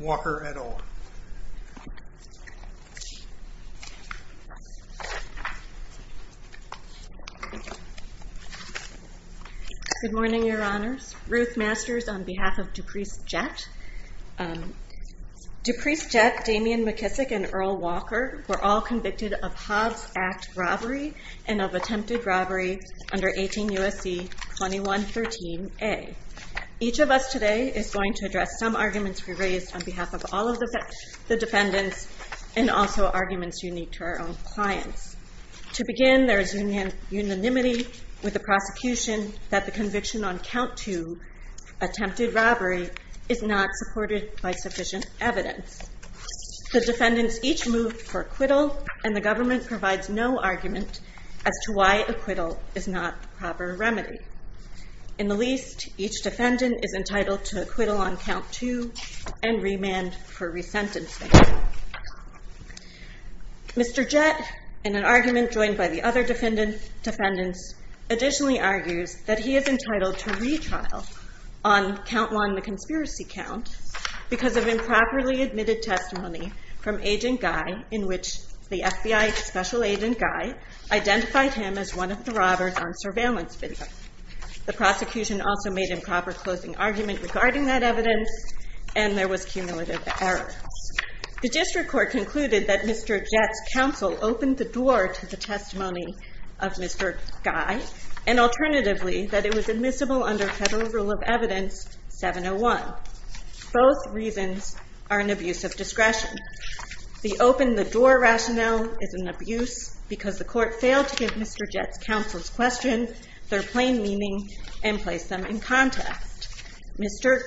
Walker et al. Good morning, Your Honors. Ruth Masters on behalf of Duprece Jett. Duprece Jett, Damian McKissick, and Earl Walker were all convicted of Hobbs Act robbery and of attempted robbery under 18 U.S.C. 2113a. Each of us today is going to address some arguments we raised on behalf of all of the defendants and also arguments unique to our own clients. To begin, there is unanimity with the prosecution that the conviction on count two, attempted robbery, is not supported by sufficient evidence. The defendants each moved for acquittal and the government provides no argument as to why acquittal is not the proper remedy. In the least, each defendant is entitled to acquittal on count two and remand for resentencing. Mr. Jett, in an argument joined by the other defendants, additionally argues that he is entitled to retrial on count one, the conspiracy count, because of improperly admitted testimony from Agent Guy in which the FBI Special Agent Guy identified him as one of the robbers on surveillance video. The prosecution also made improper closing argument regarding that evidence and there was cumulative error. The district court concluded that Mr. Jett's counsel opened the door to the testimony of Mr. Guy and alternatively that it was admissible under federal rule of evidence 701. Both reasons are an abuse of discretion. The open the door rationale is an abuse because the court failed to give Mr. Jett's counsel's question their plain meaning and place them in context. Mr.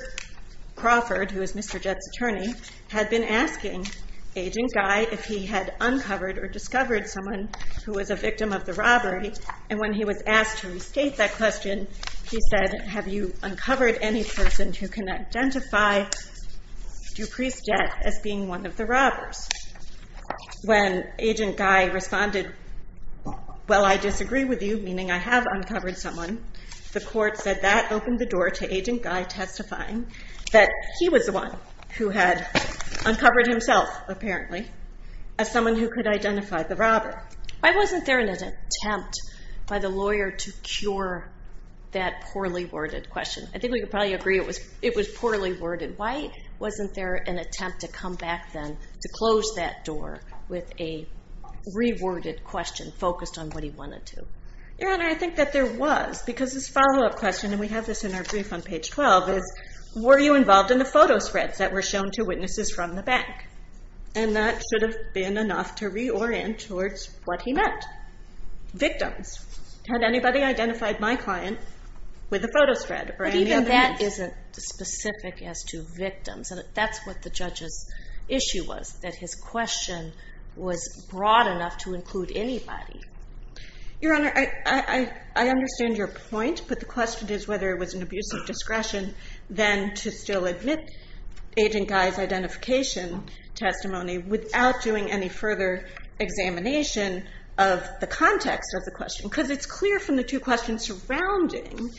Crawford, who is Mr. Jett's attorney, had been asking Agent Guy if he had uncovered or discovered someone who was a victim of the robbery and when he was asked to restate that question, he said, have you uncovered any person who can identify Dupree's Jett as being one of the robbers? When Agent Guy responded, well I disagree with you, meaning I have uncovered someone, the court said that opened the door to Agent Guy testifying that he was the one who had uncovered himself, apparently, as someone who could identify the robber. Why wasn't there an attempt by the lawyer to cure that poorly worded question? I think we could probably agree it was it was poorly worded. Why wasn't there an attempt to close that door with a reworded question focused on what he wanted to? Your Honor, I think that there was because this follow-up question, and we have this in our brief on page 12, is were you involved in the photo spreads that were shown to witnesses from the bank? And that should have been enough to reorient towards what he meant. Victims. Had anybody identified my client with a photo spread? But even that isn't specific as to victims and that's what the issue was, that his question was broad enough to include anybody. Your Honor, I understand your point, but the question is whether it was an abuse of discretion then to still admit Agent Guy's identification testimony without doing any further examination of the context of the question, because it's clear from the two questions surrounding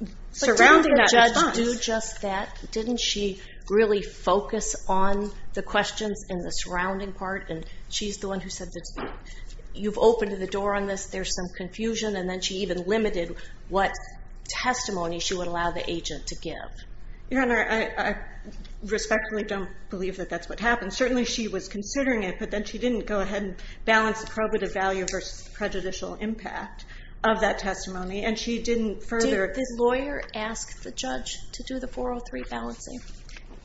that response. But didn't the judge do just that? Didn't she really focus on the questions in the surrounding part? And she's the one who said that you've opened the door on this, there's some confusion, and then she even limited what testimony she would allow the agent to give. Your Honor, I respectfully don't believe that that's what happened. Certainly she was considering it, but then she didn't go ahead and balance the probative value versus prejudicial impact of that testimony, and she didn't further... Did the lawyer ask the judge to do the 403 balancing?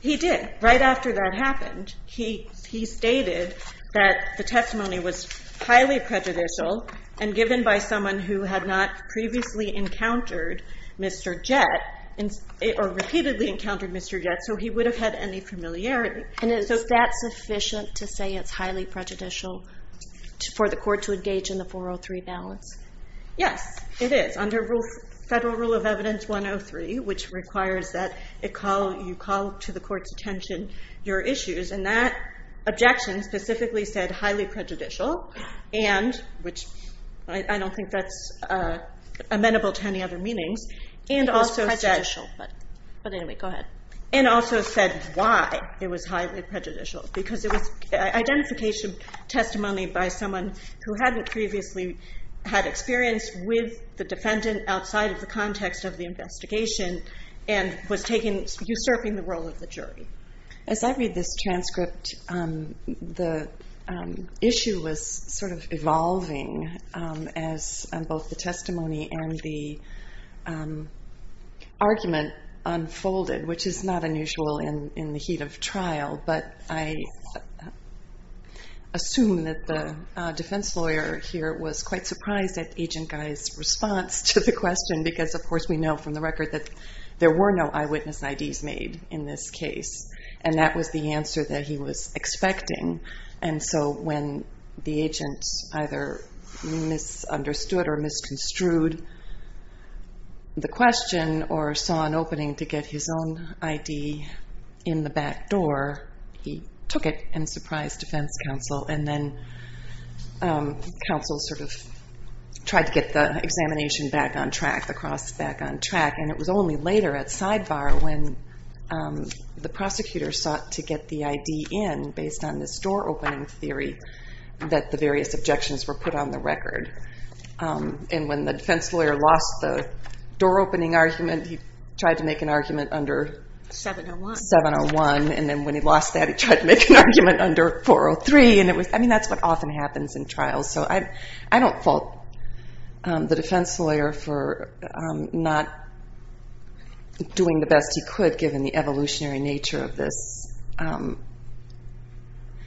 He did. Right after that happened, he stated that the testimony was highly prejudicial and given by someone who had not previously encountered Mr. Jett, or repeatedly encountered Mr. Jett, so he would have had any familiarity. And is that sufficient to say it's highly prejudicial for the court to engage in the 403 balance? Yes, it is. Under Federal Rule of Evidence 103, which requires that you call to the court's attention your issues, and that objection specifically said highly prejudicial, and which I don't think that's amenable to any other meanings, and also said... But anyway, go ahead. And also said why it was highly prejudicial, because it was identification testimony by someone who hadn't previously had experience with the defendant outside of the context of the investigation, and was usurping the role of the jury. As I read this transcript, the issue was sort of evolving as both the testimony and the argument unfolded, which is not unusual in the heat of trial, but I assume that the defense lawyer here was quite surprised at Agent Guy's response to the question, because of course we know from the record that there were no eyewitness IDs made in this case, and that was the answer that he was expecting. And so when the agent either misunderstood or misconstrued the question, or saw an opening to get his own ID in the back door, he took it and surprised defense counsel, and then counsel sort of tried to get the examination back on track, the cross back on track, and it was only later at sidebar when the prosecutor sought to get the ID in based on this door opening theory that the various objections were put on the record. And when the defense lawyer lost the door opening argument, he tried to make an argument under 701, and then when he lost that, he tried to make an argument under 403, and it was, I mean, that's what often happens in trials. So I don't fault the defense lawyer for not doing the best he could given the evolutionary nature of this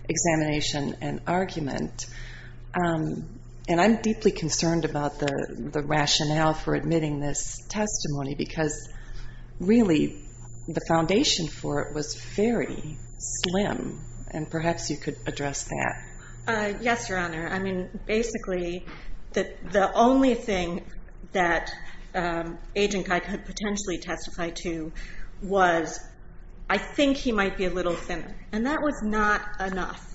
examination and argument, and I'm deeply concerned about the rationale for admitting this testimony, because really the evidence is not there. And perhaps you could address that. Yes, Your Honor. I mean, basically the only thing that Agent Guy could potentially testify to was, I think he might be a little thinner, and that was not enough.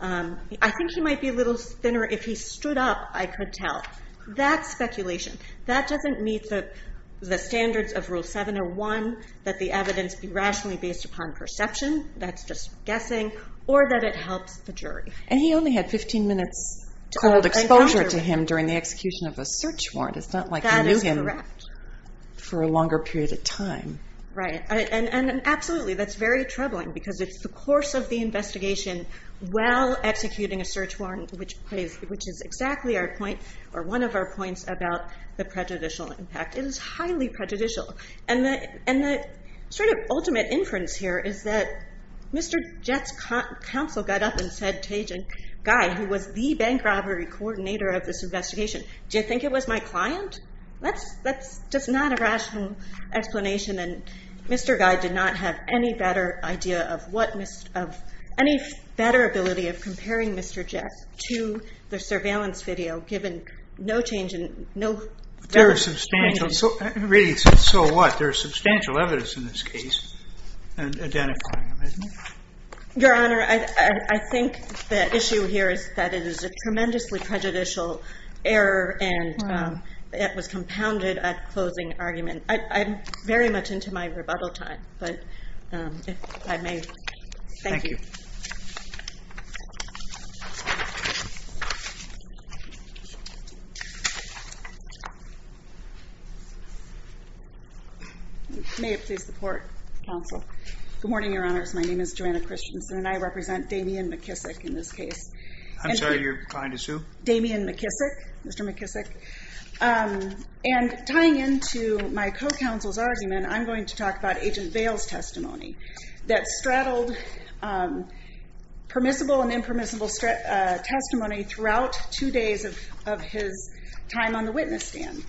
I think he might be a little thinner if he stood up, I could tell. That speculation, that doesn't meet the standards of rule 701 that the evidence be rationally based upon perception, that's just guessing, or that it helps the jury. And he only had 15 minutes cold exposure to him during the execution of a search warrant. It's not like he knew him for a longer period of time. Right. And absolutely, that's very troubling, because it's the course of the investigation while executing a search warrant, which is exactly our point, or one of our points about the prejudicial impact. It is highly prejudicial. And the sort of ultimate inference here is that Mr. Jett's counsel got up and said to Agent Guy, who was the bank robbery coordinator of this investigation, do you think it was my client? That's just not a rational explanation, and Mr. Guy did not have any better idea of what, any better ability of comparing Mr. Jett to the surveillance video, given no change in, no... There is substantial, so what? There is substantial evidence in this case in identifying him, isn't there? Your Honor, I think the issue here is that it is a tremendously prejudicial error, and it was compounded at closing argument. I'm very much into my rebuttal time, but if I may. Thank you. May it please the Court, Counsel. Good morning, Your Honors. My name is Joanna Christensen, and I represent Damian McKissick in this case. I'm sorry, your client is who? Damian McKissick, Mr. McKissick. And tying into my co-counsel's argument, I'm going to talk about Agent Vail's testimony that straddled permissible and impermissible testimony throughout two days of his time on the witness stand.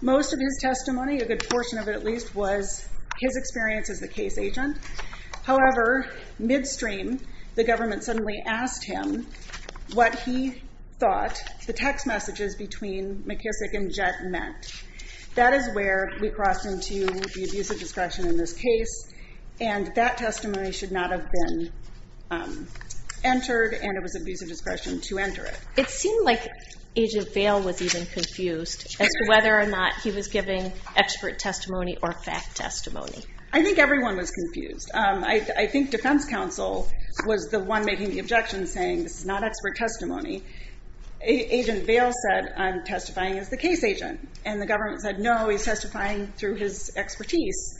Most of his testimony, a good portion of it at least, was his experience as the case agent. However, midstream, the government suddenly asked him what he thought the text messages between McKissick and Jett meant. That is where we crossed into the abuse of discretion in this case, and that testimony should not have been entered, and it was abuse of discretion to enter it. It seemed like Agent Vail was even confused as to whether or not he was giving expert testimony or fact testimony. I think everyone was confused. I think Defense Counsel was the one making the objection, saying this is not expert testimony. Agent Vail said, I'm testifying as the case agent, and the government said, no, he's testifying through his expertise.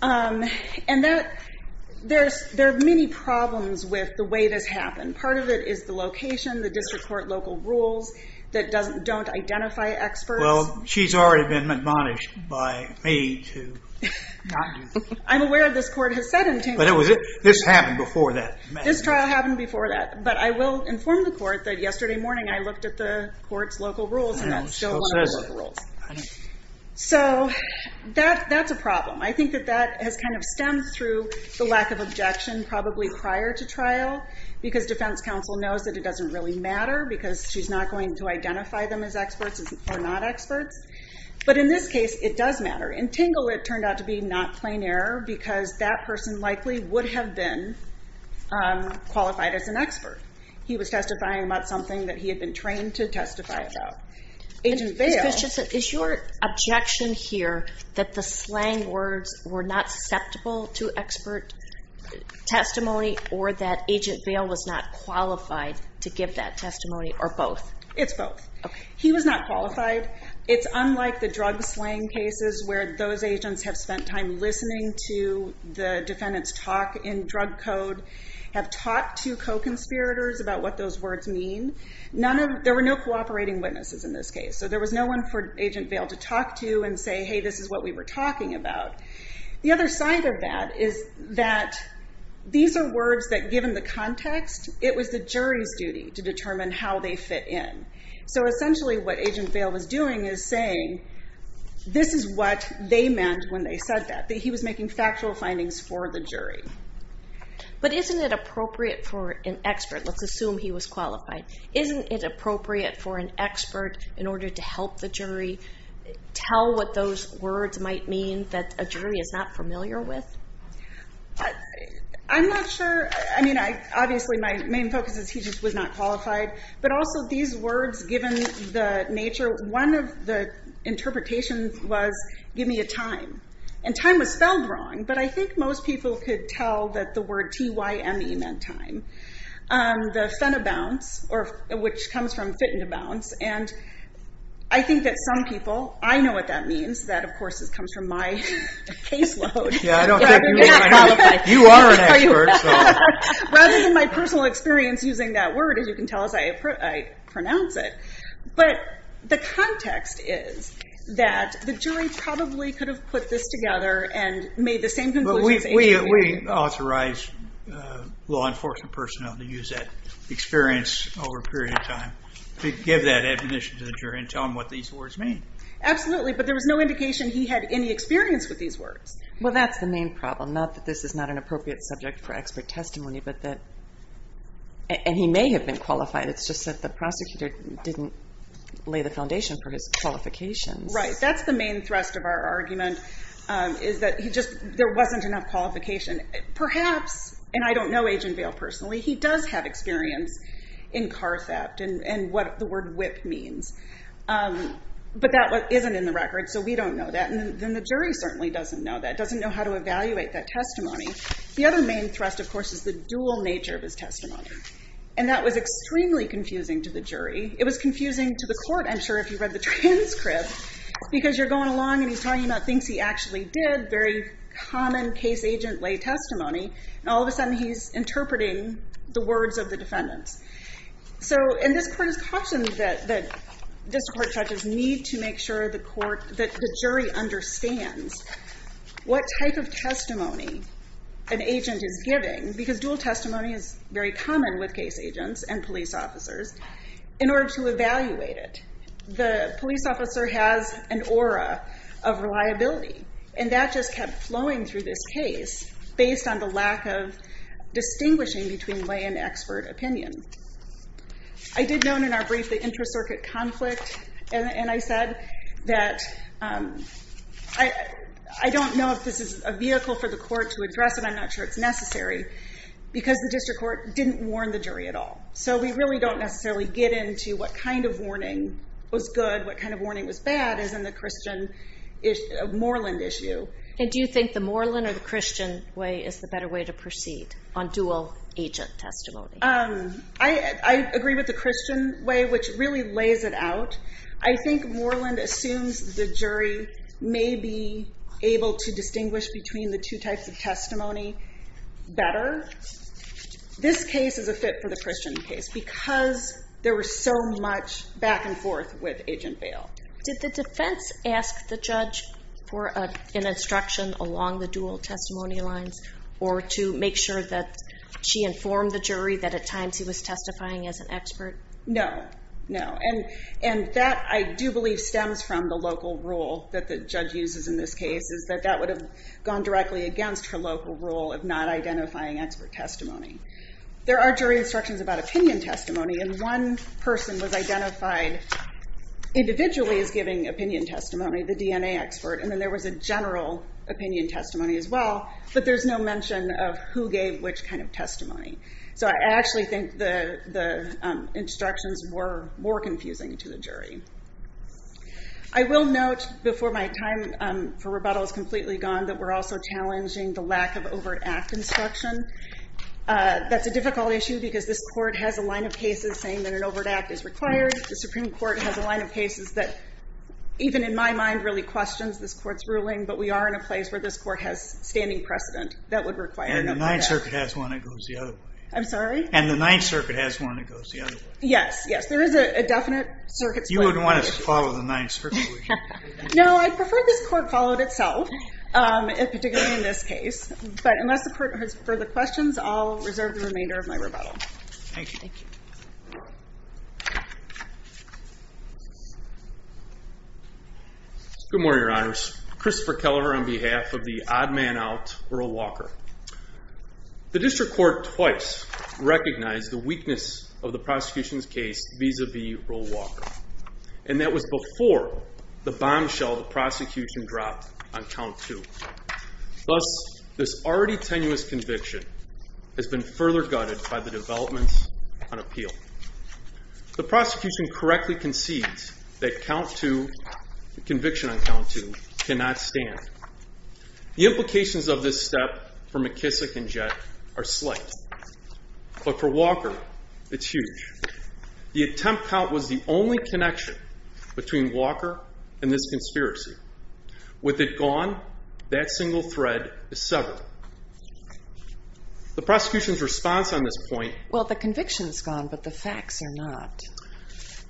And there are many problems with the way this happened. Part of it is the location, the district court local rules that don't identify experts. Well, she's already been admonished by me. I'm aware this court has said... But this happened before that. This trial happened before that, but I will inform the court that yesterday morning I looked at the court's local rules, and that's still one of the local rules. So that's a problem. I think that that has kind of stemmed through the lack of objection, probably prior to because Defense Counsel knows that it doesn't really matter because she's not going to identify them as experts or not experts. But in this case, it does matter. In Tingle, it turned out to be not plain error because that person likely would have been qualified as an expert. He was testifying about something that he had been trained to testify about. Agent Vail... Ms. Bischoff, is your objection here that the slang words were not susceptible to and Agent Vail was not qualified to give that testimony or both? It's both. He was not qualified. It's unlike the drug slang cases where those agents have spent time listening to the defendant's talk in drug code, have talked to co-conspirators about what those words mean. There were no cooperating witnesses in this case, so there was no one for Agent Vail to talk to and say, hey, this is what we were talking about. The other side of that is that these are words that, given the context, it was the jury's duty to determine how they fit in. So essentially what Agent Vail was doing is saying, this is what they meant when they said that, that he was making factual findings for the jury. But isn't it appropriate for an expert, let's assume he was qualified, isn't it appropriate for an expert in order to help the jury tell what those words might mean that a jury is not Obviously my main focus is he just was not qualified, but also these words, given the nature, one of the interpretations was, give me a time. And time was spelled wrong, but I think most people could tell that the word T-Y-M-E meant time. The fenobounce, which comes from fit and a bounce, and I think that some people, I don't think you are an expert. Rather than my personal experience using that word, as you can tell as I pronounce it, but the context is that the jury probably could have put this together and made the same conclusion as Agent Vail. We authorize law enforcement personnel to use that experience over a period of time to give that admonition to the jury and tell them what these words mean. Absolutely, but there was no experience with these words. Well, that's the main problem, not that this is not an appropriate subject for expert testimony, but that, and he may have been qualified, it's just that the prosecutor didn't lay the foundation for his qualifications. Right, that's the main thrust of our argument, is that he just, there wasn't enough qualification. Perhaps, and I don't know Agent Vail personally, he does have experience in car theft and what the word whip means, but that isn't in the jury. The jury certainly doesn't know that, doesn't know how to evaluate that testimony. The other main thrust, of course, is the dual nature of his testimony, and that was extremely confusing to the jury. It was confusing to the court, I'm sure, if you read the transcript, because you're going along and he's talking about things he actually did, very common case agent lay testimony, and all of a sudden he's interpreting the words of the defendants. So, and this court has cautioned that this court judges need to make sure the court, that the jury understands what type of testimony an agent is giving, because dual testimony is very common with case agents and police officers, in order to evaluate it. The police officer has an aura of reliability, and that just kept flowing through this case based on the lack of distinguishing between lay and expert opinion. I did note in our brief the intra-circuit conflict, and I said that I don't know if this is a vehicle for the court to address it, I'm not sure it's necessary, because the district court didn't warn the jury at all. So we really don't necessarily get into what kind of warning was good, what kind of warning was bad, as in the Christian, Moreland issue. And do you think the Moreland or the Christian way is the better way to proceed on dual agent testimony? I agree with the which really lays it out. I think Moreland assumes the jury may be able to distinguish between the two types of testimony better. This case is a fit for the Christian case, because there was so much back and forth with Agent Bale. Did the defense ask the judge for an instruction along the dual testimony lines, or to make sure that she informed the jury that at times he was testifying as an expert? No, no, and that I do believe stems from the local rule that the judge uses in this case, is that that would have gone directly against her local rule of not identifying expert testimony. There are jury instructions about opinion testimony, and one person was identified individually as giving opinion testimony, the DNA expert, and then there was a general opinion testimony as well, but there's no mention of who gave which kind of testimony. So I actually think the instructions were more confusing to the jury. I will note before my time for rebuttal is completely gone, that we're also challenging the lack of overt act instruction. That's a difficult issue because this court has a line of cases saying that an overt act is required. The Supreme Court has a line of cases that, even in my mind, really questions this court's ruling, but we are in a place where this court has standing precedent that would require an overt act. And the Ninth Circuit has one that goes the other way. I'm sorry? And the Ninth Circuit has one that goes the other way. Yes, yes, there is a definite circuit split. You wouldn't want us to follow the Ninth Circuit. No, I prefer this court follow it itself, particularly in this case, but unless the court has further questions, I'll reserve the remainder of my rebuttal. Thank you. Good morning, Your Honor. My name is Mark Walker. The district court twice recognized the weakness of the prosecution's case vis-a-vis Earl Walker, and that was before the bombshell the prosecution dropped on count two. Thus, this already tenuous conviction has been further gutted by the developments on appeal. The prosecution correctly concedes that count two, the conviction on count two, cannot stand. The implications of this step for McKissick and Jett are slight, but for Walker, it's huge. The attempt count was the only connection between Walker and this conspiracy. With it gone, that single thread is severed. The prosecution's response on this point... Well, the conviction's gone, but the facts are not.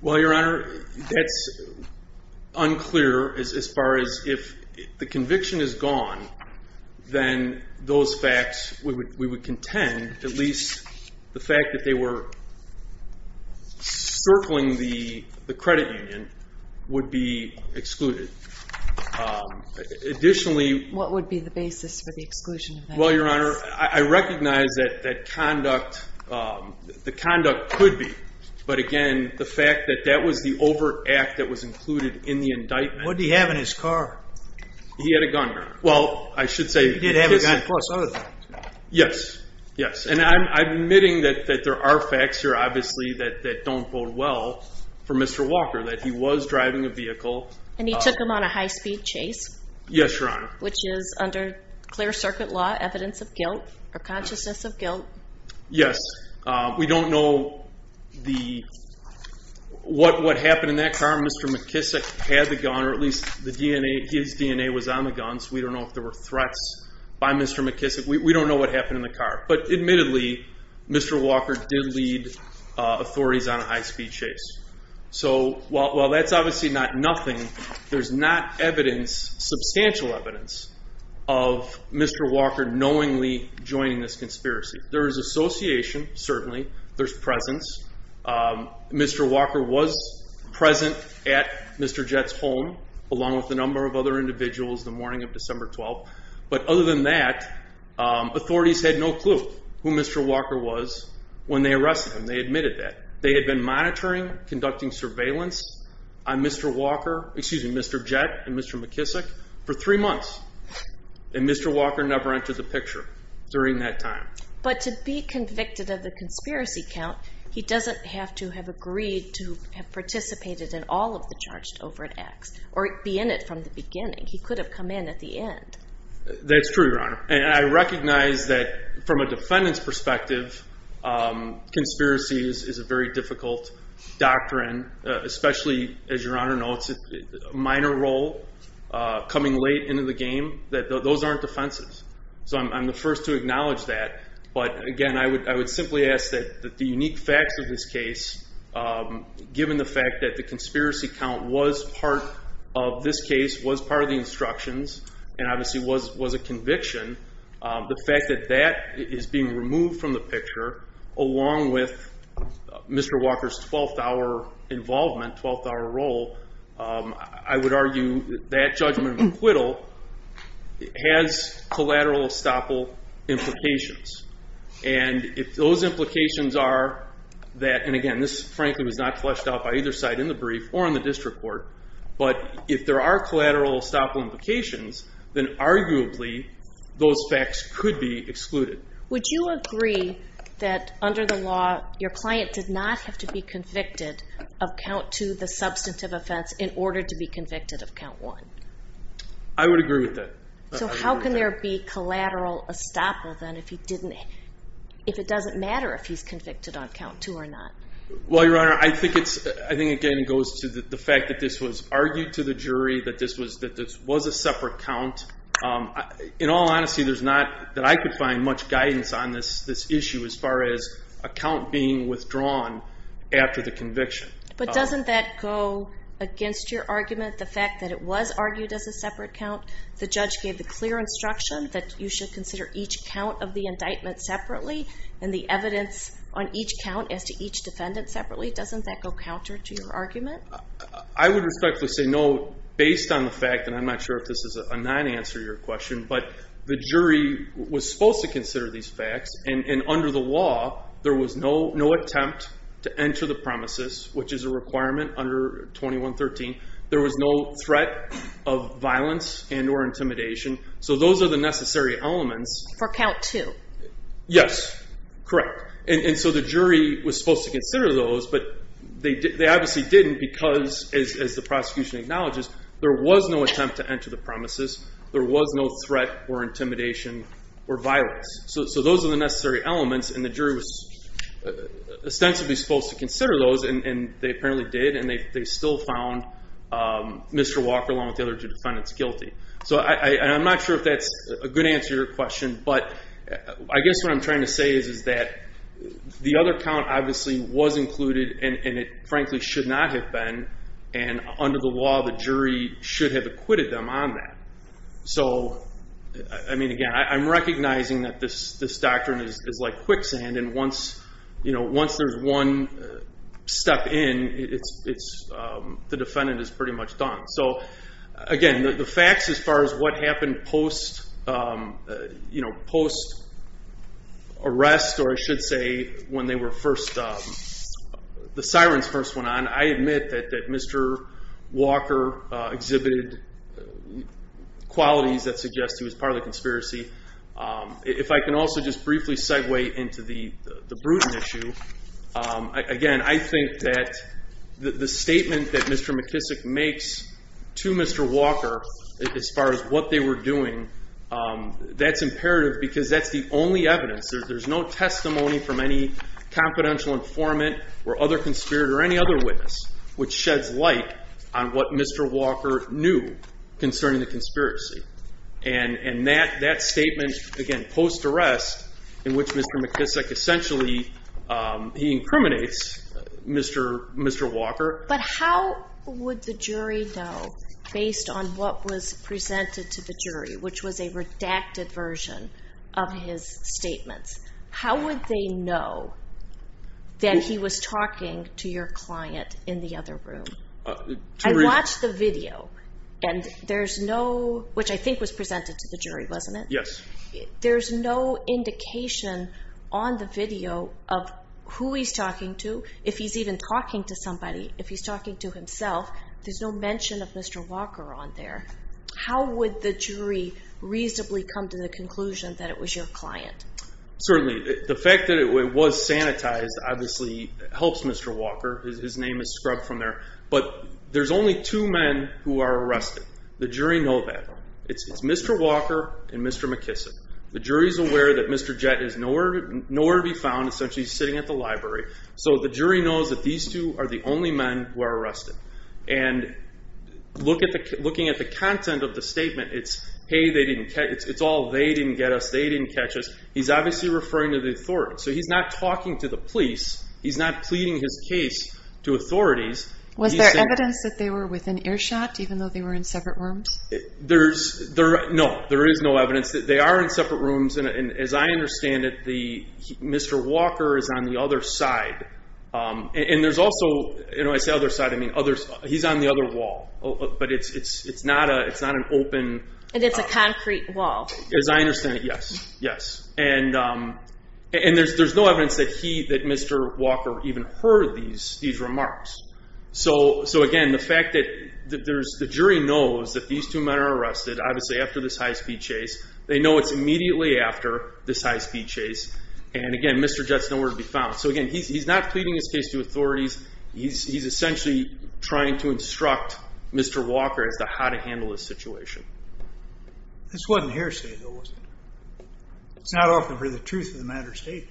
Well, Your Honor, that's... unclear as far as if the conviction is gone, then those facts we would contend, at least the fact that they were circling the credit union, would be excluded. Additionally... What would be the basis for the exclusion? Well, Your Honor, I recognize that the conduct could be, but again, the fact that that was the overt act that was included in the indictment... What did he have in his car? He had a gun, Your Honor. Well, I should say... He did have a gun, plus other things. Yes, yes, and I'm admitting that there are facts here, obviously, that don't bode well for Mr. Walker, that he was driving a vehicle... And he took him on a high-speed chase? Yes, Your Honor. Which is, under clear circuit law, evidence of guilt, or consciousness of guilt? Yes, we don't know what happened in that car. Mr. McKissick had the gun, or at least the DNA... His DNA was on the gun, so we don't know if there were threats by Mr. McKissick. We don't know what happened in the car, but admittedly, Mr. Walker did lead authorities on a high-speed chase. So, while that's obviously not nothing, there's not evidence, substantial evidence, of Mr. Walker knowingly joining this conspiracy. There is association, certainly. There's presence. Mr. Walker was present at Mr. Jett's home, along with a number of other individuals, the morning of December 12th. But other than that, authorities had no clue who Mr. Walker was when they arrested him. They admitted that. They had been monitoring, conducting surveillance on Mr. Walker, excuse me, Mr. Jett, and Mr. McKissick, for three months. And Mr. Walker never entered the picture during that time. But to be convicted of the conspiracy count, he doesn't have to have agreed to have participated in the all of the charge over at X, or be in it from the beginning. He could have come in at the end. That's true, Your Honor. And I recognize that, from a defendant's perspective, conspiracy is a very difficult doctrine, especially, as Your Honor knows, a minor role, coming late into the game, that those aren't offensives. So I'm the first to acknowledge that. But again, I would simply ask that the unique facts of this case, given the fact that the conspiracy count was part of this case, was part of the instructions, and obviously was a conviction, the fact that that is being removed from the picture, along with Mr. Walker's 12th hour involvement, 12th hour role, I would argue that judgment of acquittal has collateral estoppel implications. And if those implications are that, and again, this frankly was not fleshed out by either side, in the brief, or in the district court, but if there are collateral estoppel implications, then arguably, those facts could be excluded. Would you agree that, under the law, your client did not have to be convicted of count two, the substantive offense, in order to be convicted of count one? I would agree with that. So how can there be collateral estoppel, then, if he didn't, if it doesn't matter if he's convicted on count two or not? Well, Your Honor, I think it's, I think again, it goes to the fact that this was argued to the jury, that this was a separate count. In all honesty, there's not, that I could find much guidance on this issue, as far as a count being withdrawn after the conviction. But doesn't that go against your argument, the fact that it was argued as a separate count? The judge gave the clear instruction that you should consider each count of the indictment separately, and the evidence on each count as to each defendant separately. Doesn't that go counter to your argument? I would respectfully say no, based on the fact, and I'm not sure if this is a non-answer to your question, but the jury was supposed to consider these facts, and under the law, there was no attempt to enter the premises, which is a requirement under 2113. There was no threat of violence and or intimidation. So those are the necessary elements. For count two? Yes, correct. And so the jury was supposed to consider those, but they obviously didn't because, as the prosecution acknowledges, there was no attempt to enter the premises. There was no threat or intimidation or violence. So those are the necessary elements, and the jury was ostensibly supposed to consider those, and they apparently did, and they still found Mr. Walker, along with the other two defendants, guilty. So I'm not sure if that's a good answer to your question, but I guess what I'm trying to say is that the other count obviously was included, and it frankly should not have been, and under the law, the jury should have acquitted them on that. So again, I'm recognizing that this doctrine is like quicksand, and once there's one step in, the defendant is pretty much done. So again, the facts as far as what happened post-arrest, or I should say when the sirens first went on, I admit that Mr. Walker exhibited qualities that suggest he was part of the conspiracy. If I can also just briefly segue into the Bruton issue, again, I think that the statement that Mr. McKissick makes to Mr. Walker as far as what they were doing, that's imperative because that's the only evidence. There's no testimony from any confidential informant or other conspirator or any other witness which sheds light on what Mr. Walker knew concerning the conspiracy. And that statement, again, post-arrest, in which Mr. McKissick essentially, he incriminates Mr. Walker. But how would the jury know based on what was presented to the jury, which was a redacted version of his statements? How would they know that he was talking to your client in the other room? I watched the video, and there's no – which I think was presented to the jury, wasn't it? Yes. There's no indication on the video of who he's talking to, if he's even talking to somebody, if he's talking to himself. There's no mention of Mr. Walker on there. How would the jury reasonably come to the conclusion that it was your client? Certainly. The fact that it was sanitized, obviously, helps Mr. Walker. His name is scrubbed from there. But there's only two men who are arrested. The jury know that. It's Mr. Walker and Mr. McKissick. The jury's aware that Mr. Jett is nowhere to be found. Essentially, he's sitting at the library. So the jury knows that these two are the only men who are arrested. And looking at the content of the statement, it's, hey, they didn't catch us. It's all, they didn't get us. They didn't catch us. He's obviously referring to the authorities. So he's not talking to the police. He's not pleading his case to authorities. Was there evidence that they were within earshot, even though they were in separate rooms? No, there is no evidence that they are in separate rooms. And as I understand it, Mr. Walker is on the other side. And there's also, when I say other side, I mean other, he's on the other wall. But it's not an open… And it's a concrete wall. As I understand it, yes. Yes. And there's no evidence that he, that Mr. Walker even heard these remarks. So again, the fact that there's, the jury knows that these two men are arrested, obviously after this high-speed chase. They know it's immediately after this high-speed chase. And again, Mr. Jett's nowhere to be found. So again, he's not pleading his case to authorities. He's essentially trying to instruct Mr. Walker as to how to handle this situation. This wasn't hearsay, though, was it? It's not often for the truth of the matter stated.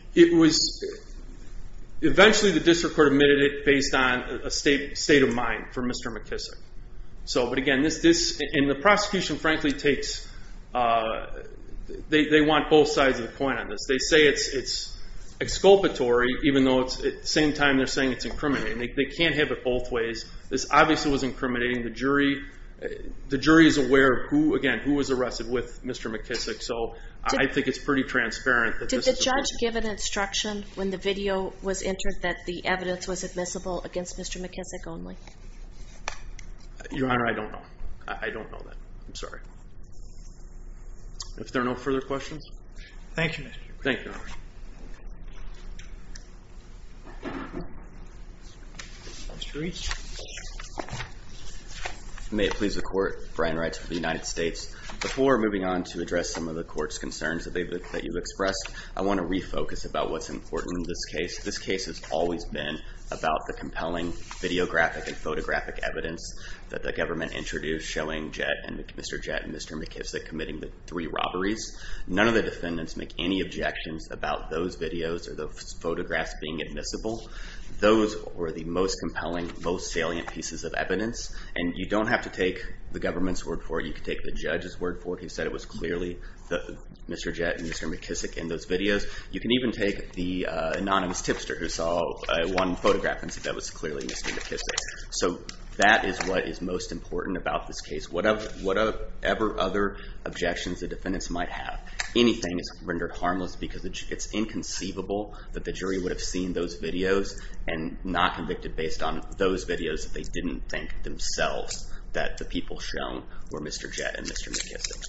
Your Honor, I don't know. I don't know that. I'm sorry. If there are no further questions? Thank you. Thank you, Your Honor. Mr. Reese? May it please the Court, Brian Wright of the United States. Before moving on to address some of the Court's concerns that you've expressed, I want to refocus about what's important in this case. This case has always been about the compelling videographic and photographic evidence that the government introduced showing Mr. Jett and Mr. McKissick committing the three robberies. None of the defendants make any objections about those videos or those photographs being admissible. Those were the most compelling, most salient pieces of evidence. And you don't have to take the government's word for it. You can take the judge's word for it. He said it was clearly Mr. Jett and Mr. McKissick in those videos. You can even take the anonymous tipster who saw one photograph and said that was clearly Mr. McKissick. So that is what is most important about this case. Whatever other objections the defendants might have, anything is rendered harmless because it's inconceivable that the jury would have seen those videos and not convicted based on those videos that they didn't think themselves that the people shown were Mr. Jett and Mr. McKissick.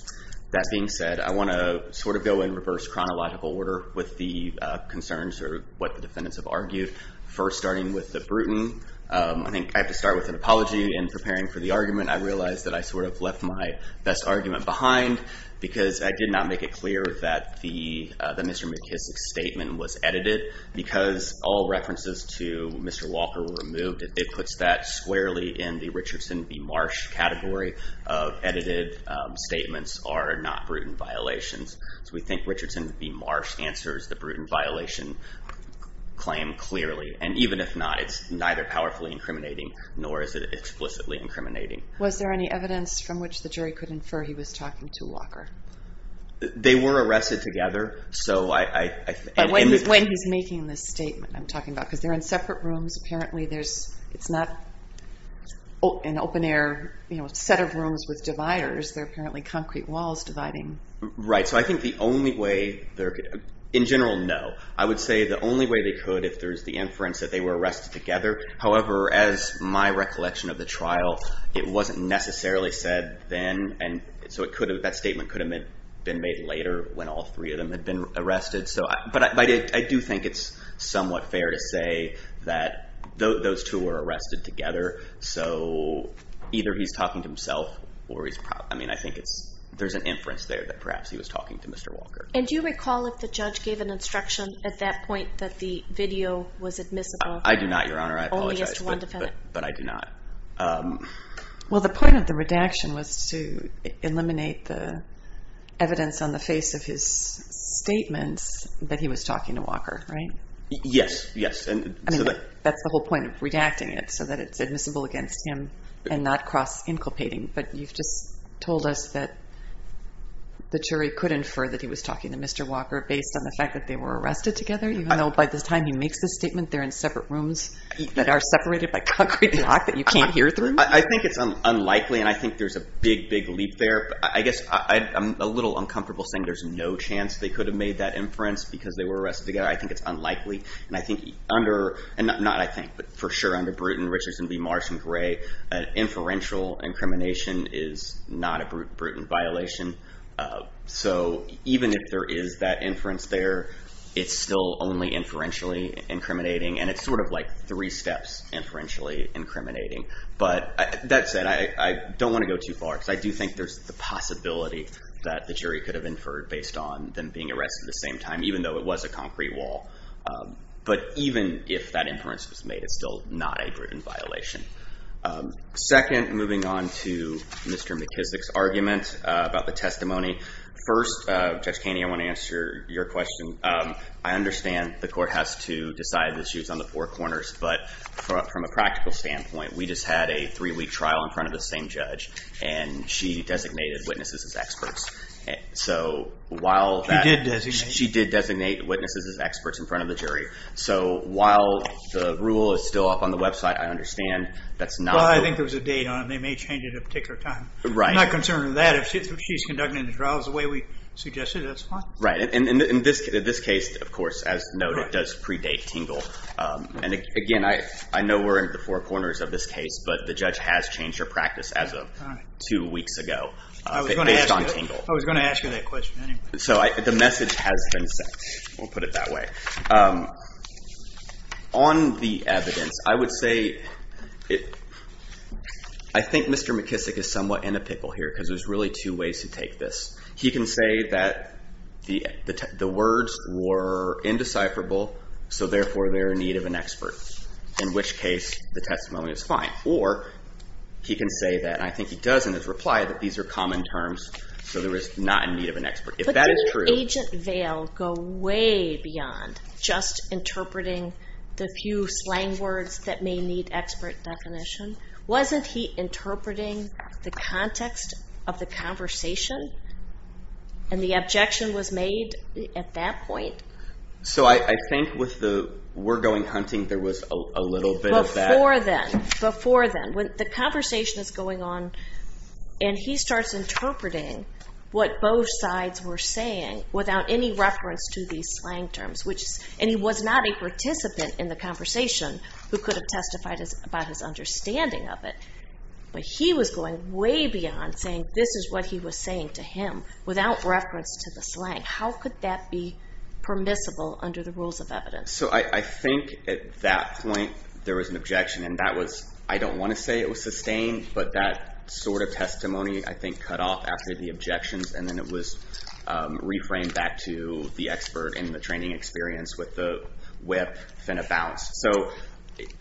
That being said, I want to sort of go in reverse chronological order with the concerns or what the defendants have argued. First, starting with the Bruton. I think I have to start with an apology in preparing for the argument. I realize that I sort of left my best argument behind because I did not make it clear that the Mr. McKissick statement was edited. Because all references to Mr. Walker were removed, it puts that squarely in the Richardson v. Marsh category of edited statements are not Bruton violations. So we think Richardson v. Marsh answers the Bruton violation claim clearly. And even if not, it's neither powerfully incriminating nor is it explicitly incriminating. Was there any evidence from which the jury could infer he was talking to Walker? They were arrested together. But when he's making this statement I'm talking about because they're in separate rooms. Apparently it's not an open air set of rooms with dividers. They're apparently concrete walls dividing. Right. So I think the only way they're – in general, no. I would say the only way they could if there's the inference that they were arrested together. However, as my recollection of the trial, it wasn't necessarily said then. And so it could have – that statement could have been made later when all three of them had been arrested. But I do think it's somewhat fair to say that those two were arrested together. So either he's talking to himself or he's – I mean, I think there's an inference there that perhaps he was talking to Mr. Walker. And do you recall if the judge gave an instruction at that point that the video was admissible? I do not, Your Honor. I apologize. Only as to one defendant. But I do not. Well, the point of the redaction was to eliminate the evidence on the face of his statements that he was talking to Walker, right? Yes. Yes. I mean, that's the whole point of redacting it, so that it's admissible against him and not cross-inculpating. But you've just told us that the jury could infer that he was talking to Mr. Walker based on the fact that they were arrested together, even though by the time he makes the statement, they're in separate rooms that are separated by concrete block that you can't hear through. I think it's unlikely, and I think there's a big, big leap there. I guess I'm a little uncomfortable saying there's no chance they could have made that inference because they were arrested together. I think it's unlikely. And I think under, and not I think, but for sure under Bruton, Richardson v. Marsh and Gray, an inferential incrimination is not a Bruton violation. So even if there is that inference there, it's still only inferentially incriminating, and it's sort of like three steps inferentially incriminating. But that said, I don't want to go too far, because I do think there's the possibility that the jury could have inferred based on them being arrested at the same time, even though it was a concrete wall. But even if that inference was made, it's still not a Bruton violation. Second, moving on to Mr. McKissick's argument about the testimony. First, Judge Caney, I want to answer your question. I understand the court has to decide that she was on the four corners, but from a practical standpoint, we just had a three-week trial in front of the same judge, and she designated witnesses as experts. She did designate. She did designate witnesses as experts in front of the jury. So while the rule is still up on the website, I understand that's not. Well, I think there was a date on it. They may change it at a particular time. I'm not concerned with that. If she's conducting the trials the way we suggested, that's fine. Right. And in this case, of course, as noted, does predate Tingle. And again, I know we're in the four corners of this case, but the judge has changed her practice as of two weeks ago based on Tingle. I was going to ask you that question anyway. So the message has been sent. We'll put it that way. On the evidence, I would say I think Mr. McKissick is somewhat in a pickle here because there's really two ways to take this. He can say that the words were indecipherable, so therefore they're in need of an expert, in which case the testimony is fine. Or he can say that, and I think he does in his reply, that these are common terms, so they're not in need of an expert. But didn't Agent Vale go way beyond just interpreting the few slang words that may need expert definition? Wasn't he interpreting the context of the conversation and the objection was made at that point? So I think with the we're going hunting, there was a little bit of that. Before then, when the conversation is going on and he starts interpreting what both sides were saying without any reference to these slang terms, and he was not a participant in the conversation who could have testified about his understanding of it, but he was going way beyond saying this is what he was saying to him without reference to the slang. How could that be permissible under the rules of evidence? So I think at that point there was an objection, and I don't want to say it was sustained, but that sort of testimony I think cut off after the objections, and then it was reframed back to the expert in the training experience with the whip and a bounce. So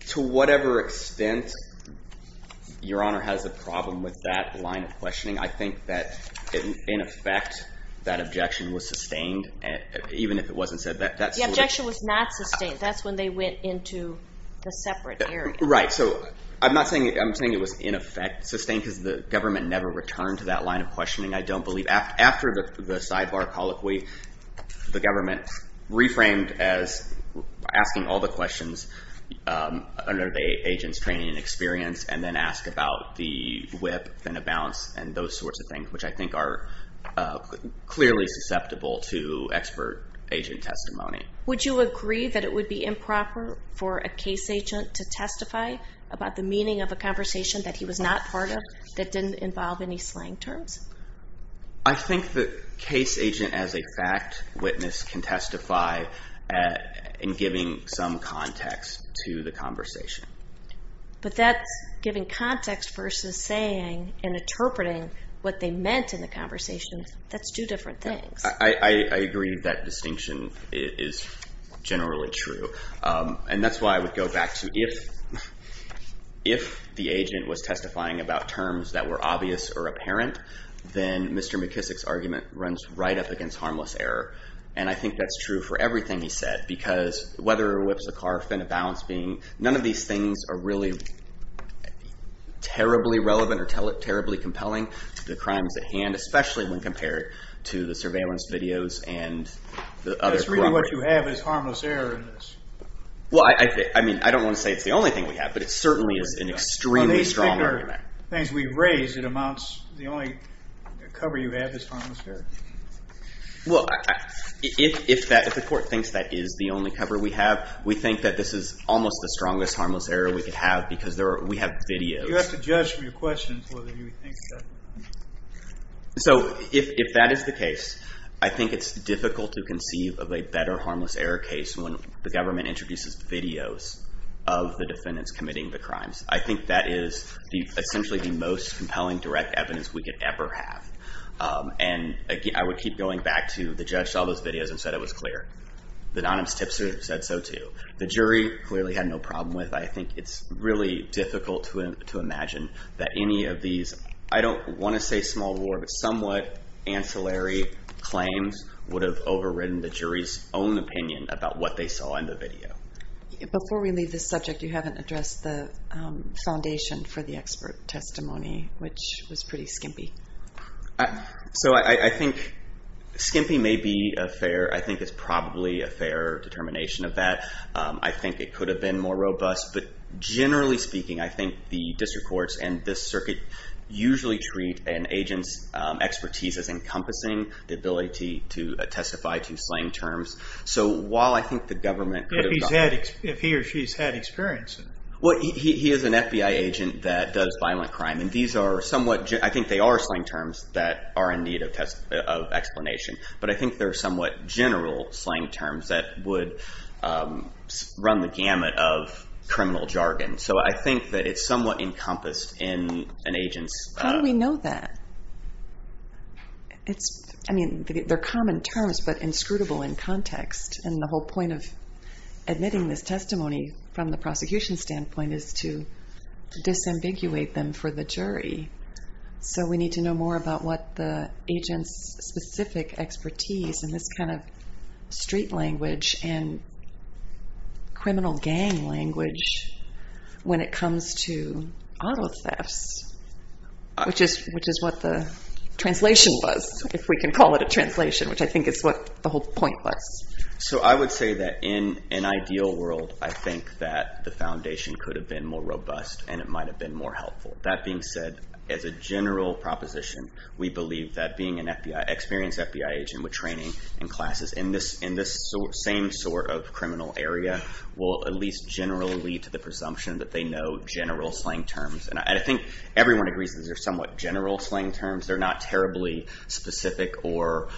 to whatever extent Your Honor has a problem with that line of questioning, I think that in effect that objection was sustained, even if it wasn't said. The objection was not sustained. That's when they went into the separate area. Right, so I'm not saying it was in effect sustained because the government never returned to that line of questioning, I don't believe. After the sidebar colloquy, the government reframed as asking all the questions under the agent's training and experience, and then asked about the whip and a bounce and those sorts of things, which I think are clearly susceptible to expert agent testimony. Would you agree that it would be improper for a case agent to testify about the meaning of a conversation that he was not part of that didn't involve any slang terms? I think the case agent as a fact witness can testify in giving some context to the conversation. But that's giving context versus saying and interpreting what they meant in the conversation. That's two different things. I agree that distinction is generally true. And that's why I would go back to if the agent was testifying about terms that were obvious or apparent, then Mr. McKissick's argument runs right up against harmless error. And I think that's true for everything he said, because whether it was a car, fin, a bounce, none of these things are really terribly relevant or terribly compelling to the crimes at hand, especially when compared to the surveillance videos and the other corruption. That's really what you have is harmless error in this. Well, I don't want to say it's the only thing we have, but it certainly is an extremely strong argument. The things we've raised, the only cover you have is harmless error. Well, if the court thinks that is the only cover we have, we think that this is almost the strongest harmless error we could have because we have videos. You have to judge from your questions whether you think that. So if that is the case, I think it's difficult to conceive of a better harmless error case when the government introduces videos of the defendants committing the crimes. I think that is essentially the most compelling direct evidence we could ever have. And I would keep going back to the judge saw those videos and said it was clear. The anonymous tipster said so too. The jury clearly had no problem with it. I think it's really difficult to imagine that any of these, I don't want to say small war, but somewhat ancillary claims would have overridden the jury's own opinion about what they saw in the video. Before we leave this subject, you haven't addressed the foundation for the expert testimony, which was pretty skimpy. So I think skimpy may be a fair, I think it's probably a fair determination of that. I think it could have been more robust. But generally speaking, I think the district courts and this circuit usually treat an agent's expertise as encompassing the ability to testify to slang terms. So while I think the government could have gotten… If he or she has had experience. Well, he is an FBI agent that does violent crime. And these are somewhat… I think they are slang terms that are in need of explanation. But I think they're somewhat general slang terms that would run the gamut of criminal jargon. So I think that it's somewhat encompassed in an agent's… How do we know that? I mean, they're common terms but inscrutable in context. And the whole point of admitting this testimony from the prosecution standpoint is to disambiguate them for the jury. So we need to know more about what the agent's specific expertise in this kind of street language and criminal gang language when it comes to auto thefts, which is what the translation was, if we can call it a translation, which I think is what the whole point was. So I would say that in an ideal world, I think that the foundation could have been more robust and it might have been more helpful. That being said, as a general proposition, we believe that being an experienced FBI agent with training and classes in this same sort of criminal area will at least generally lead to the presumption that they know general slang terms. And I think everyone agrees that these are somewhat general slang terms. They're not terribly specific or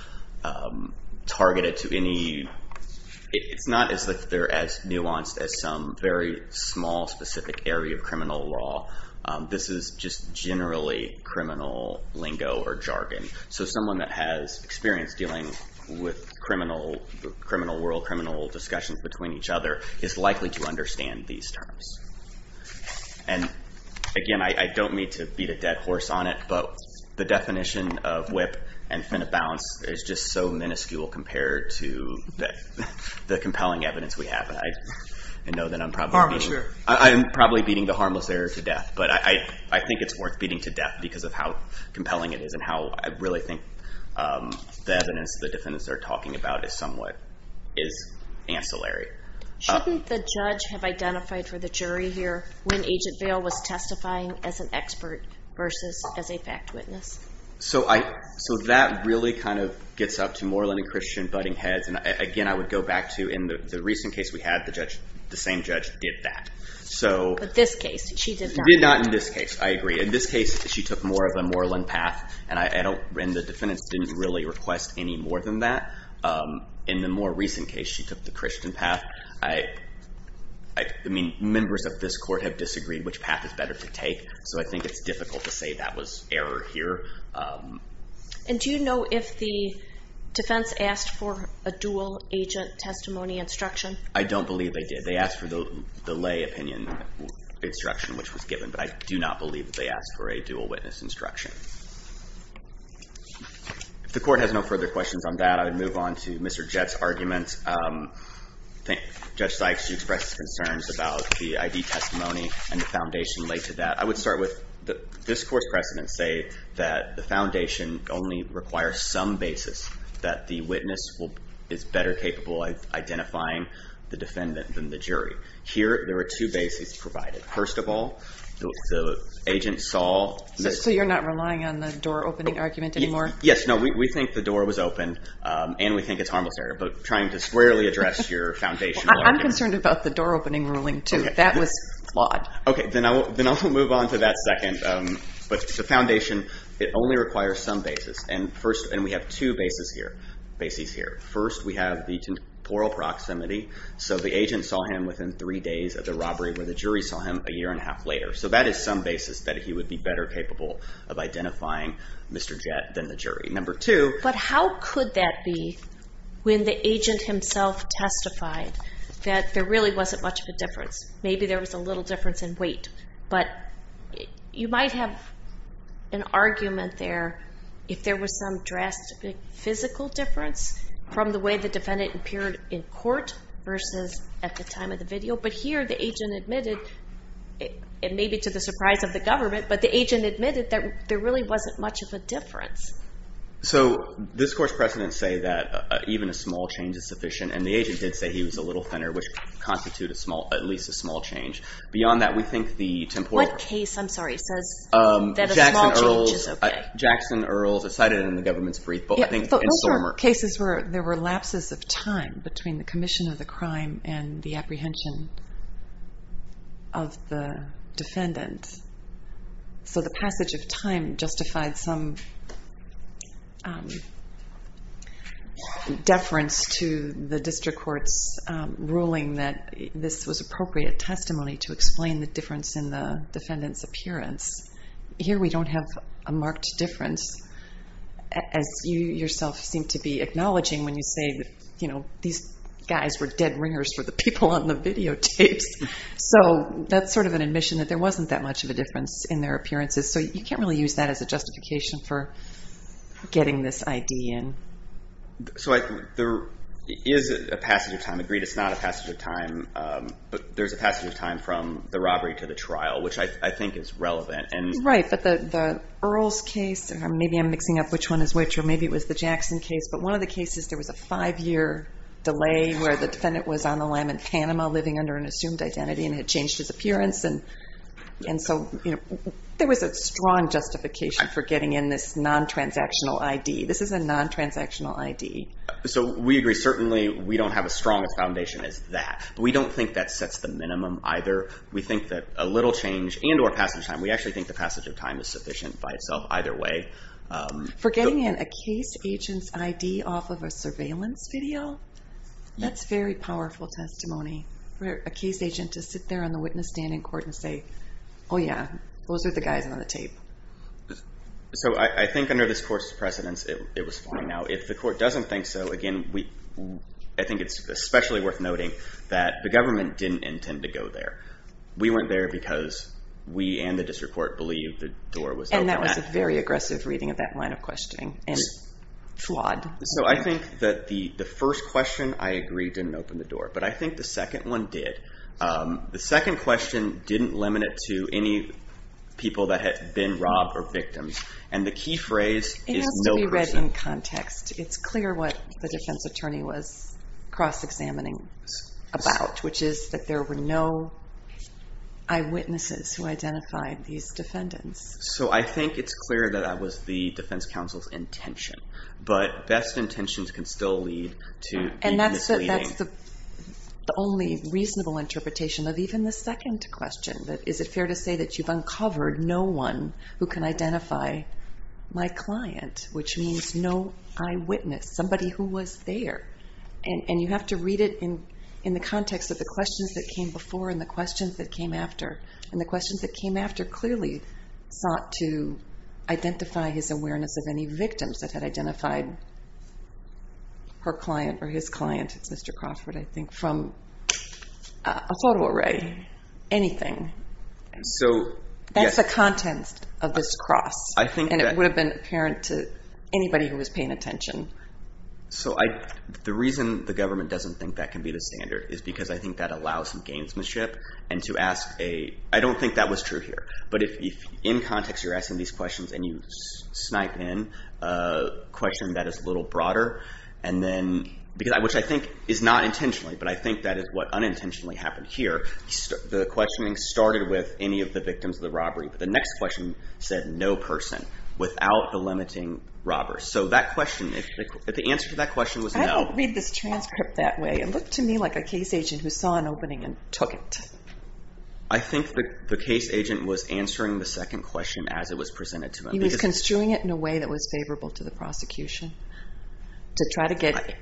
targeted to any… It's not as if they're as nuanced as some very small specific area of criminal law. This is just generally criminal lingo or jargon. So someone that has experience dealing with criminal world, criminal discussions between each other is likely to understand these terms. And again, I don't mean to beat a dead horse on it, but the definition of whip and fin of balance is just so minuscule compared to the compelling evidence we have. I know that I'm probably beating the harmless error to death, but I think it's worth beating to death because of how compelling it is and how I really think the evidence the defendants are talking about is somewhat ancillary. Shouldn't the judge have identified for the jury here when Agent Vale was testifying as an expert versus as a fact witness? So that really kind of gets up to Moreland and Christian butting heads. And again, I would go back to in the recent case we had, the same judge did that. But this case, she did not. She did not in this case. I agree. In this case, she took more of a Moreland path, and the defendants didn't really request any more than that. In the more recent case, she took the Christian path. I mean, members of this court have disagreed which path is better to take, so I think it's difficult to say that was error here. And do you know if the defense asked for a dual agent testimony instruction? I don't believe they did. They asked for the lay opinion instruction which was given, but I do not believe that they asked for a dual witness instruction. If the court has no further questions on that, I would move on to Mr. Jett's argument. Judge Sykes, you expressed concerns about the ID testimony and the foundation laid to that. I would start with this court's precedents say that the foundation only requires some basis that the witness is better capable of identifying the defendant than the jury. Here, there are two bases provided. First of all, the agent saw Mr. Jett. So you're not relying on the door opening argument anymore? Yes. No, we think the door was open, and we think it's harmless error, but trying to squarely address your foundation. I'm concerned about the door opening ruling too. That was flawed. Okay, then I'll move on to that second. But the foundation, it only requires some basis, and we have two bases here. First, we have the temporal proximity, so the agent saw him within three days of the robbery where the jury saw him a year and a half later. So that is some basis that he would be better capable of identifying Mr. Jett than the jury. Number two. But how could that be when the agent himself testified that there really wasn't much of a difference? Maybe there was a little difference in weight, but you might have an argument there if there was some drastic physical difference from the way the defendant appeared in court versus at the time of the video. But here, the agent admitted, and maybe to the surprise of the government, but the agent admitted that there really wasn't much of a difference. So this court's precedents say that even a small change is sufficient, and the agent did say he was a little thinner, which constitutes at least a small change. Beyond that, we think the temporal... What case, I'm sorry, says that a small change is okay? Jackson Earls. It's cited in the government's brief, but I think it's in Sormer. Those are cases where there were lapses of time between the commission of the crime and the apprehension of the defendant. So the passage of time justified some deference to the district court's ruling that this was appropriate testimony to explain the difference in the defendant's appearance. Here we don't have a marked difference, as you yourself seem to be acknowledging when you say that these guys were dead ringers for the people on the videotapes. So that's sort of an admission that there wasn't that much of a difference in their appearances. So you can't really use that as a justification for getting this ID in. So there is a passage of time. Agreed it's not a passage of time, but there's a passage of time from the robbery to the trial, which I think is relevant. Right, but the Earls case, or maybe I'm mixing up which one is which, or maybe it was the Jackson case, but one of the cases there was a five-year delay where the defendant was on the line in Panama living under an assumed identity and had changed his appearance. And so there was a strong justification for getting in this non-transactional ID. This is a non-transactional ID. So we agree. Certainly we don't have as strong a foundation as that. We don't think that sets the minimum either. We think that a little change and or passage of time, we actually think the passage of time is sufficient by itself either way. For getting in a case agent's ID off of a surveillance video, that's very powerful testimony for a case agent to sit there on the witness standing court and say, oh, yeah, those are the guys on the tape. So I think under this court's precedence it was fine. Now, if the court doesn't think so, again, I think it's especially worth noting that the government didn't intend to go there. We weren't there because we and the district court believed the door was open. And that was a very aggressive reading of that line of questioning and flawed. So I think that the first question, I agree, didn't open the door. But I think the second one did. The second question didn't limit it to any people that had been robbed or victims. And the key phrase is no person. It has to be read in context. It's clear what the defense attorney was cross-examining about, which is that there were no eyewitnesses who identified these defendants. So I think it's clear that that was the defense counsel's intention. But best intentions can still lead to misleading. And that's the only reasonable interpretation of even the second question, that is it fair to say that you've uncovered no one who can identify my client, which means no eyewitness, somebody who was there. And you have to read it in the context of the questions that came before and the questions that came after. And the questions that came after clearly sought to identify his awareness of any victims that had identified her client or his client, it's Mr. Crawford, I think, from a photo array, anything. That's the contents of this cross. And it would have been apparent to anybody who was paying attention. So the reason the government doesn't think that can be the standard is because I think that allows some gamesmanship and to ask a – I don't think that was true here. But if in context you're asking these questions and you snipe in a question that is a little broader and then – which I think is not intentionally, but I think that is what unintentionally happened here. The questioning started with any of the victims of the robbery, but the next question said no person without the limiting robber. So that question, the answer to that question was no. I didn't read this transcript that way. It looked to me like a case agent who saw an opening and took it. I think the case agent was answering the second question as it was presented to him. He was construing it in a way that was favorable to the prosecution, to try to get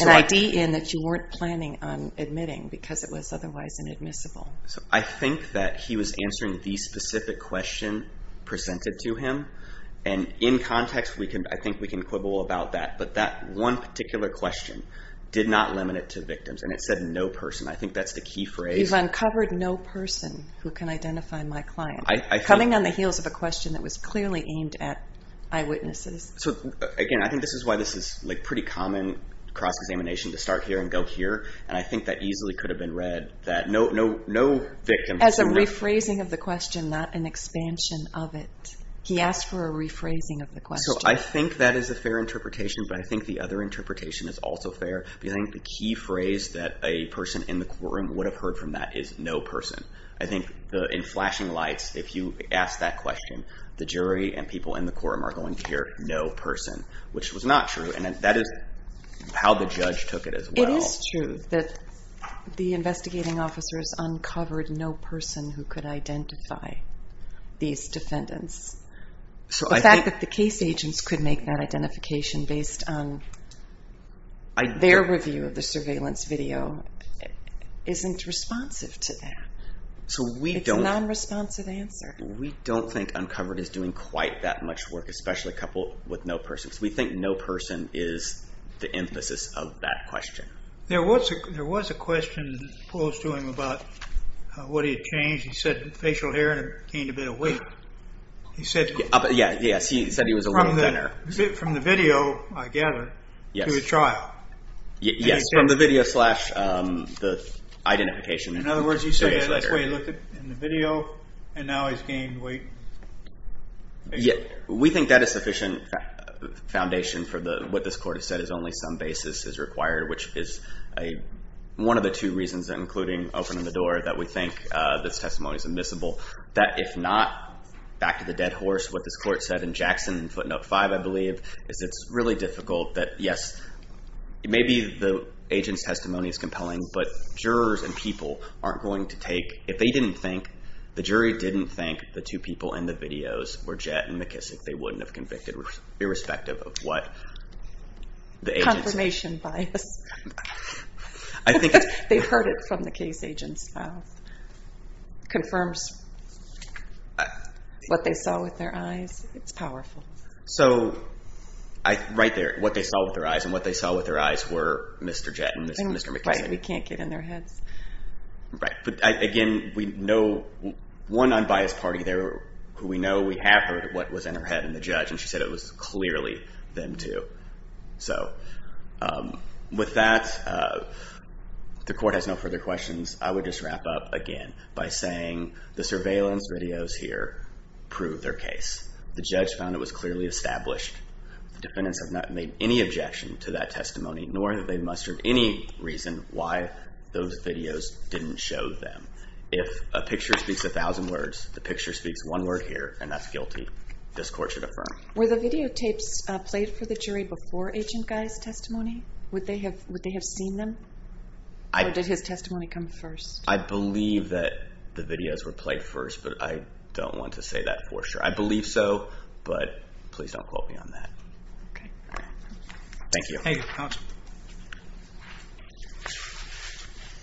an ID in that you weren't planning on admitting because it was otherwise inadmissible. So I think that he was answering the specific question presented to him. And in context, I think we can quibble about that. But that one particular question did not limit it to victims, and it said no person. I think that's the key phrase. You've uncovered no person who can identify my client. Coming on the heels of a question that was clearly aimed at eyewitnesses. So again, I think this is why this is pretty common cross-examination to start here and go here, and I think that easily could have been read that no victim – As a rephrasing of the question, not an expansion of it. He asked for a rephrasing of the question. So I think that is a fair interpretation, but I think the other interpretation is also fair. I think the key phrase that a person in the courtroom would have heard from that is no person. I think in flashing lights, if you ask that question, the jury and people in the courtroom are going to hear no person, which was not true, and that is how the judge took it as well. It is true that the investigating officers uncovered no person who could identify these defendants. The fact that the case agents could make that identification based on their review of the surveillance video isn't responsive to that. It's a non-responsive answer. We don't think uncovered is doing quite that much work, especially coupled with no person. We think no person is the emphasis of that question. There was a question posed to him about what he had changed. He said facial hair and gained a bit of weight. Yes, he said he was a little thinner. From the video, I gather, to the trial. Yes, from the video slash the identification. In other words, he said that's the way he looked in the video, and now he's gained weight. We think that is sufficient foundation for what this court has said is only some basis is required, which is one of the two reasons, including opening the door, that we think this testimony is admissible. If not, back to the dead horse, what this court said in Jackson footnote 5, I believe, is it's really difficult that, yes, maybe the agent's testimony is compelling, but jurors and people aren't going to take. If the jury didn't think the two people in the videos were Jett and McKissick, they wouldn't have convicted irrespective of what the agent said. Confirmation bias. They heard it from the case agent's mouth. It confirms what they saw with their eyes. It's powerful. Right there, what they saw with their eyes, and what they saw with their eyes were Mr. Jett and Mr. McKissick. Right, we can't get in their heads. Right, but again, we know one unbiased party there, who we know we have heard what was in her head in the judge, and she said it was clearly them two. With that, the court has no further questions. I would just wrap up again by saying the surveillance videos here prove their case. The judge found it was clearly established. The defendants have not made any objection to that testimony, nor have they mustered any reason why those videos didn't show them. If a picture speaks a thousand words, the picture speaks one word here, and that's guilty. This court should affirm. Were the videotapes played for the jury before Agent Guy's testimony? Would they have seen them? Or did his testimony come first? I believe that the videos were played first, but I don't want to say that for sure. I believe so, but please don't quote me on that. Thank you.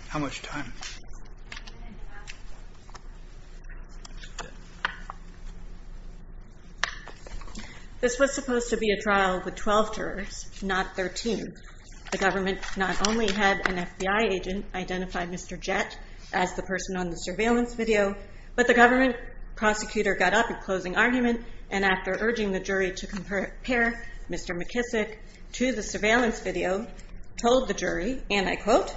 How much time? This was supposed to be a trial with 12 jurors, not 13. The government not only had an FBI agent identify Mr. Jett as the person on the surveillance video, but the government prosecutor got up at closing argument, and after urging the jury to compare Mr. McKissick to the surveillance video, told the jury, and I quote,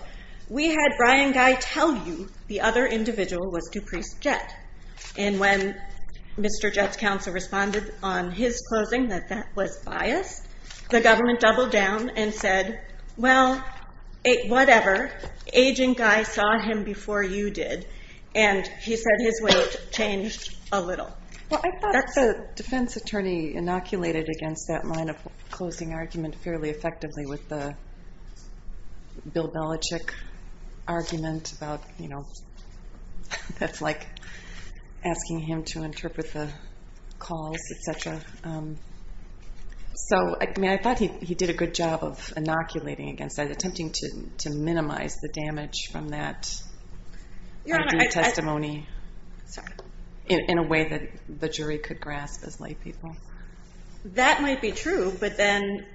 we had Brian Guy tell you the other individual was Dupreece Jett. And when Mr. Jett's counsel responded on his closing that that was biased, the government doubled down and said, well, whatever, Agent Guy saw him before you did, and he said his weight changed a little. I thought the defense attorney inoculated against that line of closing argument fairly effectively with the Bill Belichick argument about that's like asking him to interpret the calls, et cetera. So I thought he did a good job of inoculating against that, attempting to minimize the damage from that testimony in a way that the jury could grasp as lay people. That might be true, but then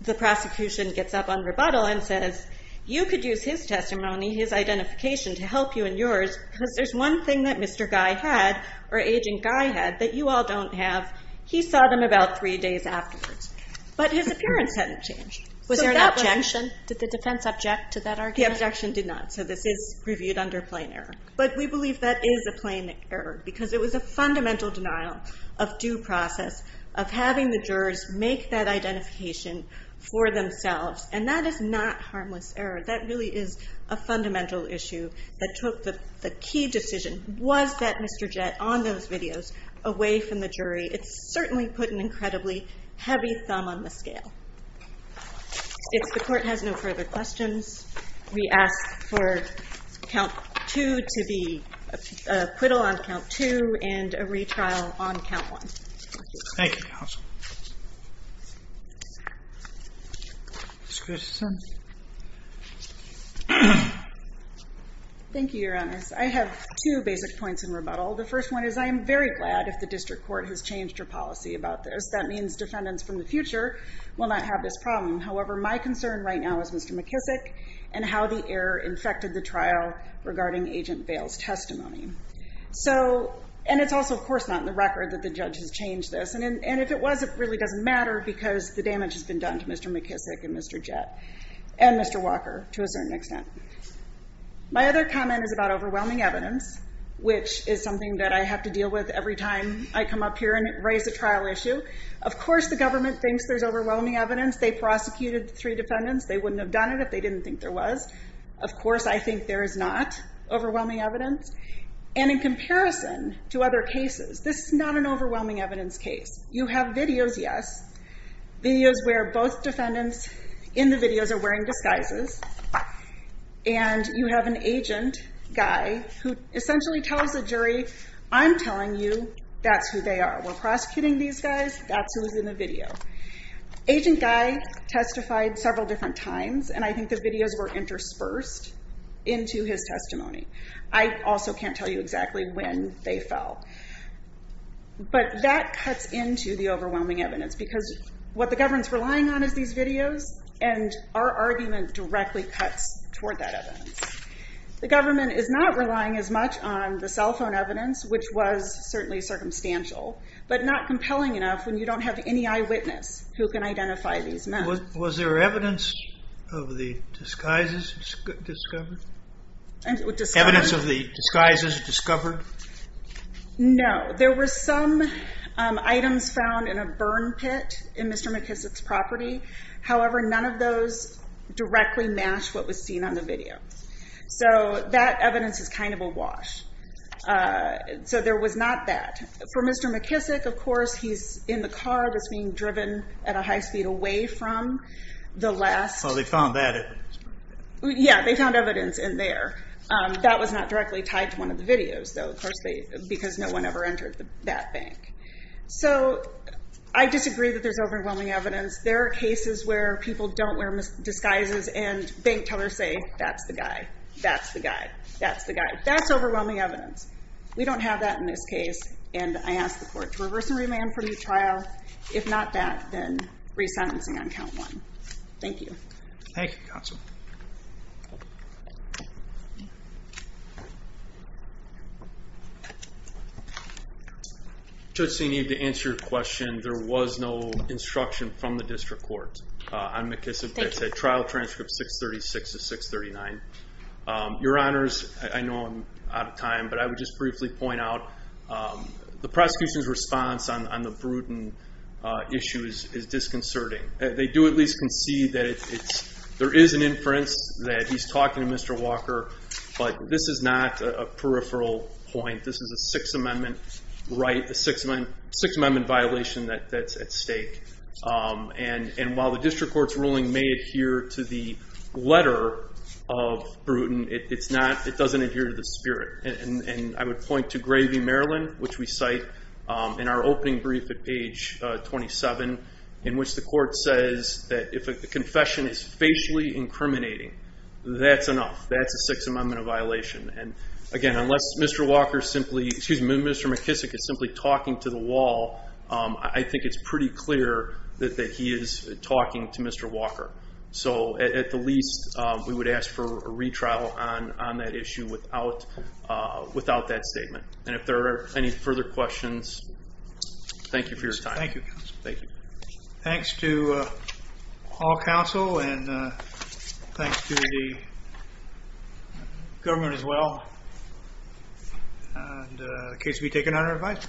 the prosecution gets up on rebuttal and says, you could use his testimony, his identification to help you and yours, because there's one thing that Mr. Guy had, or Agent Guy had, that you all don't have. He saw them about three days afterwards, but his appearance hadn't changed. Was there an objection? Did the defense object to that argument? The objection did not, so this is reviewed under plain error. But we believe that is a plain error, because it was a fundamental denial of due process, of having the jurors make that identification for themselves, and that is not harmless error. That really is a fundamental issue that took the key decision, was that Mr. Jett on those videos, away from the jury. It's certainly put an incredibly heavy thumb on the scale. If the court has no further questions, we ask for count two to be acquittal on count two, and a retrial on count one. Thank you, counsel. Ms. Christensen. Thank you, Your Honor. I have two basic points in rebuttal. The first one is I am very glad if the district court has changed her policy about this. That means defendants from the future will not have this problem. However, my concern right now is Mr. McKissick, and how the error infected the trial regarding Agent Bale's testimony. And it's also, of course, not in the record that the judge has changed this. And if it was, it really doesn't matter, because the damage has been done to Mr. McKissick and Mr. Jett, and Mr. Walker, to a certain extent. My other comment is about overwhelming evidence, which is something that I have to deal with every time I come up here and raise a trial issue. Of course the government thinks there's overwhelming evidence. They prosecuted three defendants. They wouldn't have done it if they didn't think there was. Of course I think there is not overwhelming evidence. And in comparison to other cases, this is not an overwhelming evidence case. You have videos, yes. Videos where both defendants in the videos are wearing disguises, and you have an agent guy who essentially tells the jury, I'm telling you that's who they are. We're prosecuting these guys. That's who's in the video. Agent guy testified several different times, and I think the videos were interspersed into his testimony. I also can't tell you exactly when they fell. But that cuts into the overwhelming evidence, because what the government's relying on is these videos, and our argument directly cuts toward that evidence. The government is not relying as much on the cell phone evidence, which was certainly circumstantial, but not compelling enough when you don't have any eyewitness who can identify these men. Was there evidence of the disguises discovered? Evidence of the disguises discovered? No. There were some items found in a burn pit in Mr. McKissick's property. However, none of those directly matched what was seen on the video. So that evidence is kind of a wash. So there was not that. For Mr. McKissick, of course, he's in the car that's being driven at a high speed away from the last. So they found that evidence. Yeah, they found evidence in there. That was not directly tied to one of the videos, because no one ever entered that bank. So I disagree that there's overwhelming evidence. There are cases where people don't wear disguises, and bank tellers say, that's the guy, that's the guy, that's the guy. That's overwhelming evidence. We don't have that in this case, and I ask the court to reverse and remand from the trial. If not that, then re-sentencing on count one. Thank you. Thank you, counsel. Judge Sinead, to answer your question, there was no instruction from the district court on McKissick that said trial transcript 636 to 639. Your Honors, I know I'm out of time, but I would just briefly point out the prosecution's response on the Bruton issue is disconcerting. They do at least concede that there is an inference that he's talking to Mr. Walker, but this is not a peripheral point. This is a Sixth Amendment right, a Sixth Amendment violation that's at stake. And while the district court's ruling may adhere to the letter of Bruton, it doesn't adhere to the spirit. And I would point to Gravy, Maryland, which we cite in our opening brief at page 27, in which the court says that if a confession is facially incriminating, that's enough. That's a Sixth Amendment violation. And again, unless Mr. McKissick is simply talking to the wall, I think it's pretty clear that he is talking to Mr. Walker. So at the least, we would ask for a retrial on that issue without that statement. And if there are any further questions, thank you for your time. Thank you. Thanks to all counsel, and thanks to the government as well. And the case will be taken under advisory.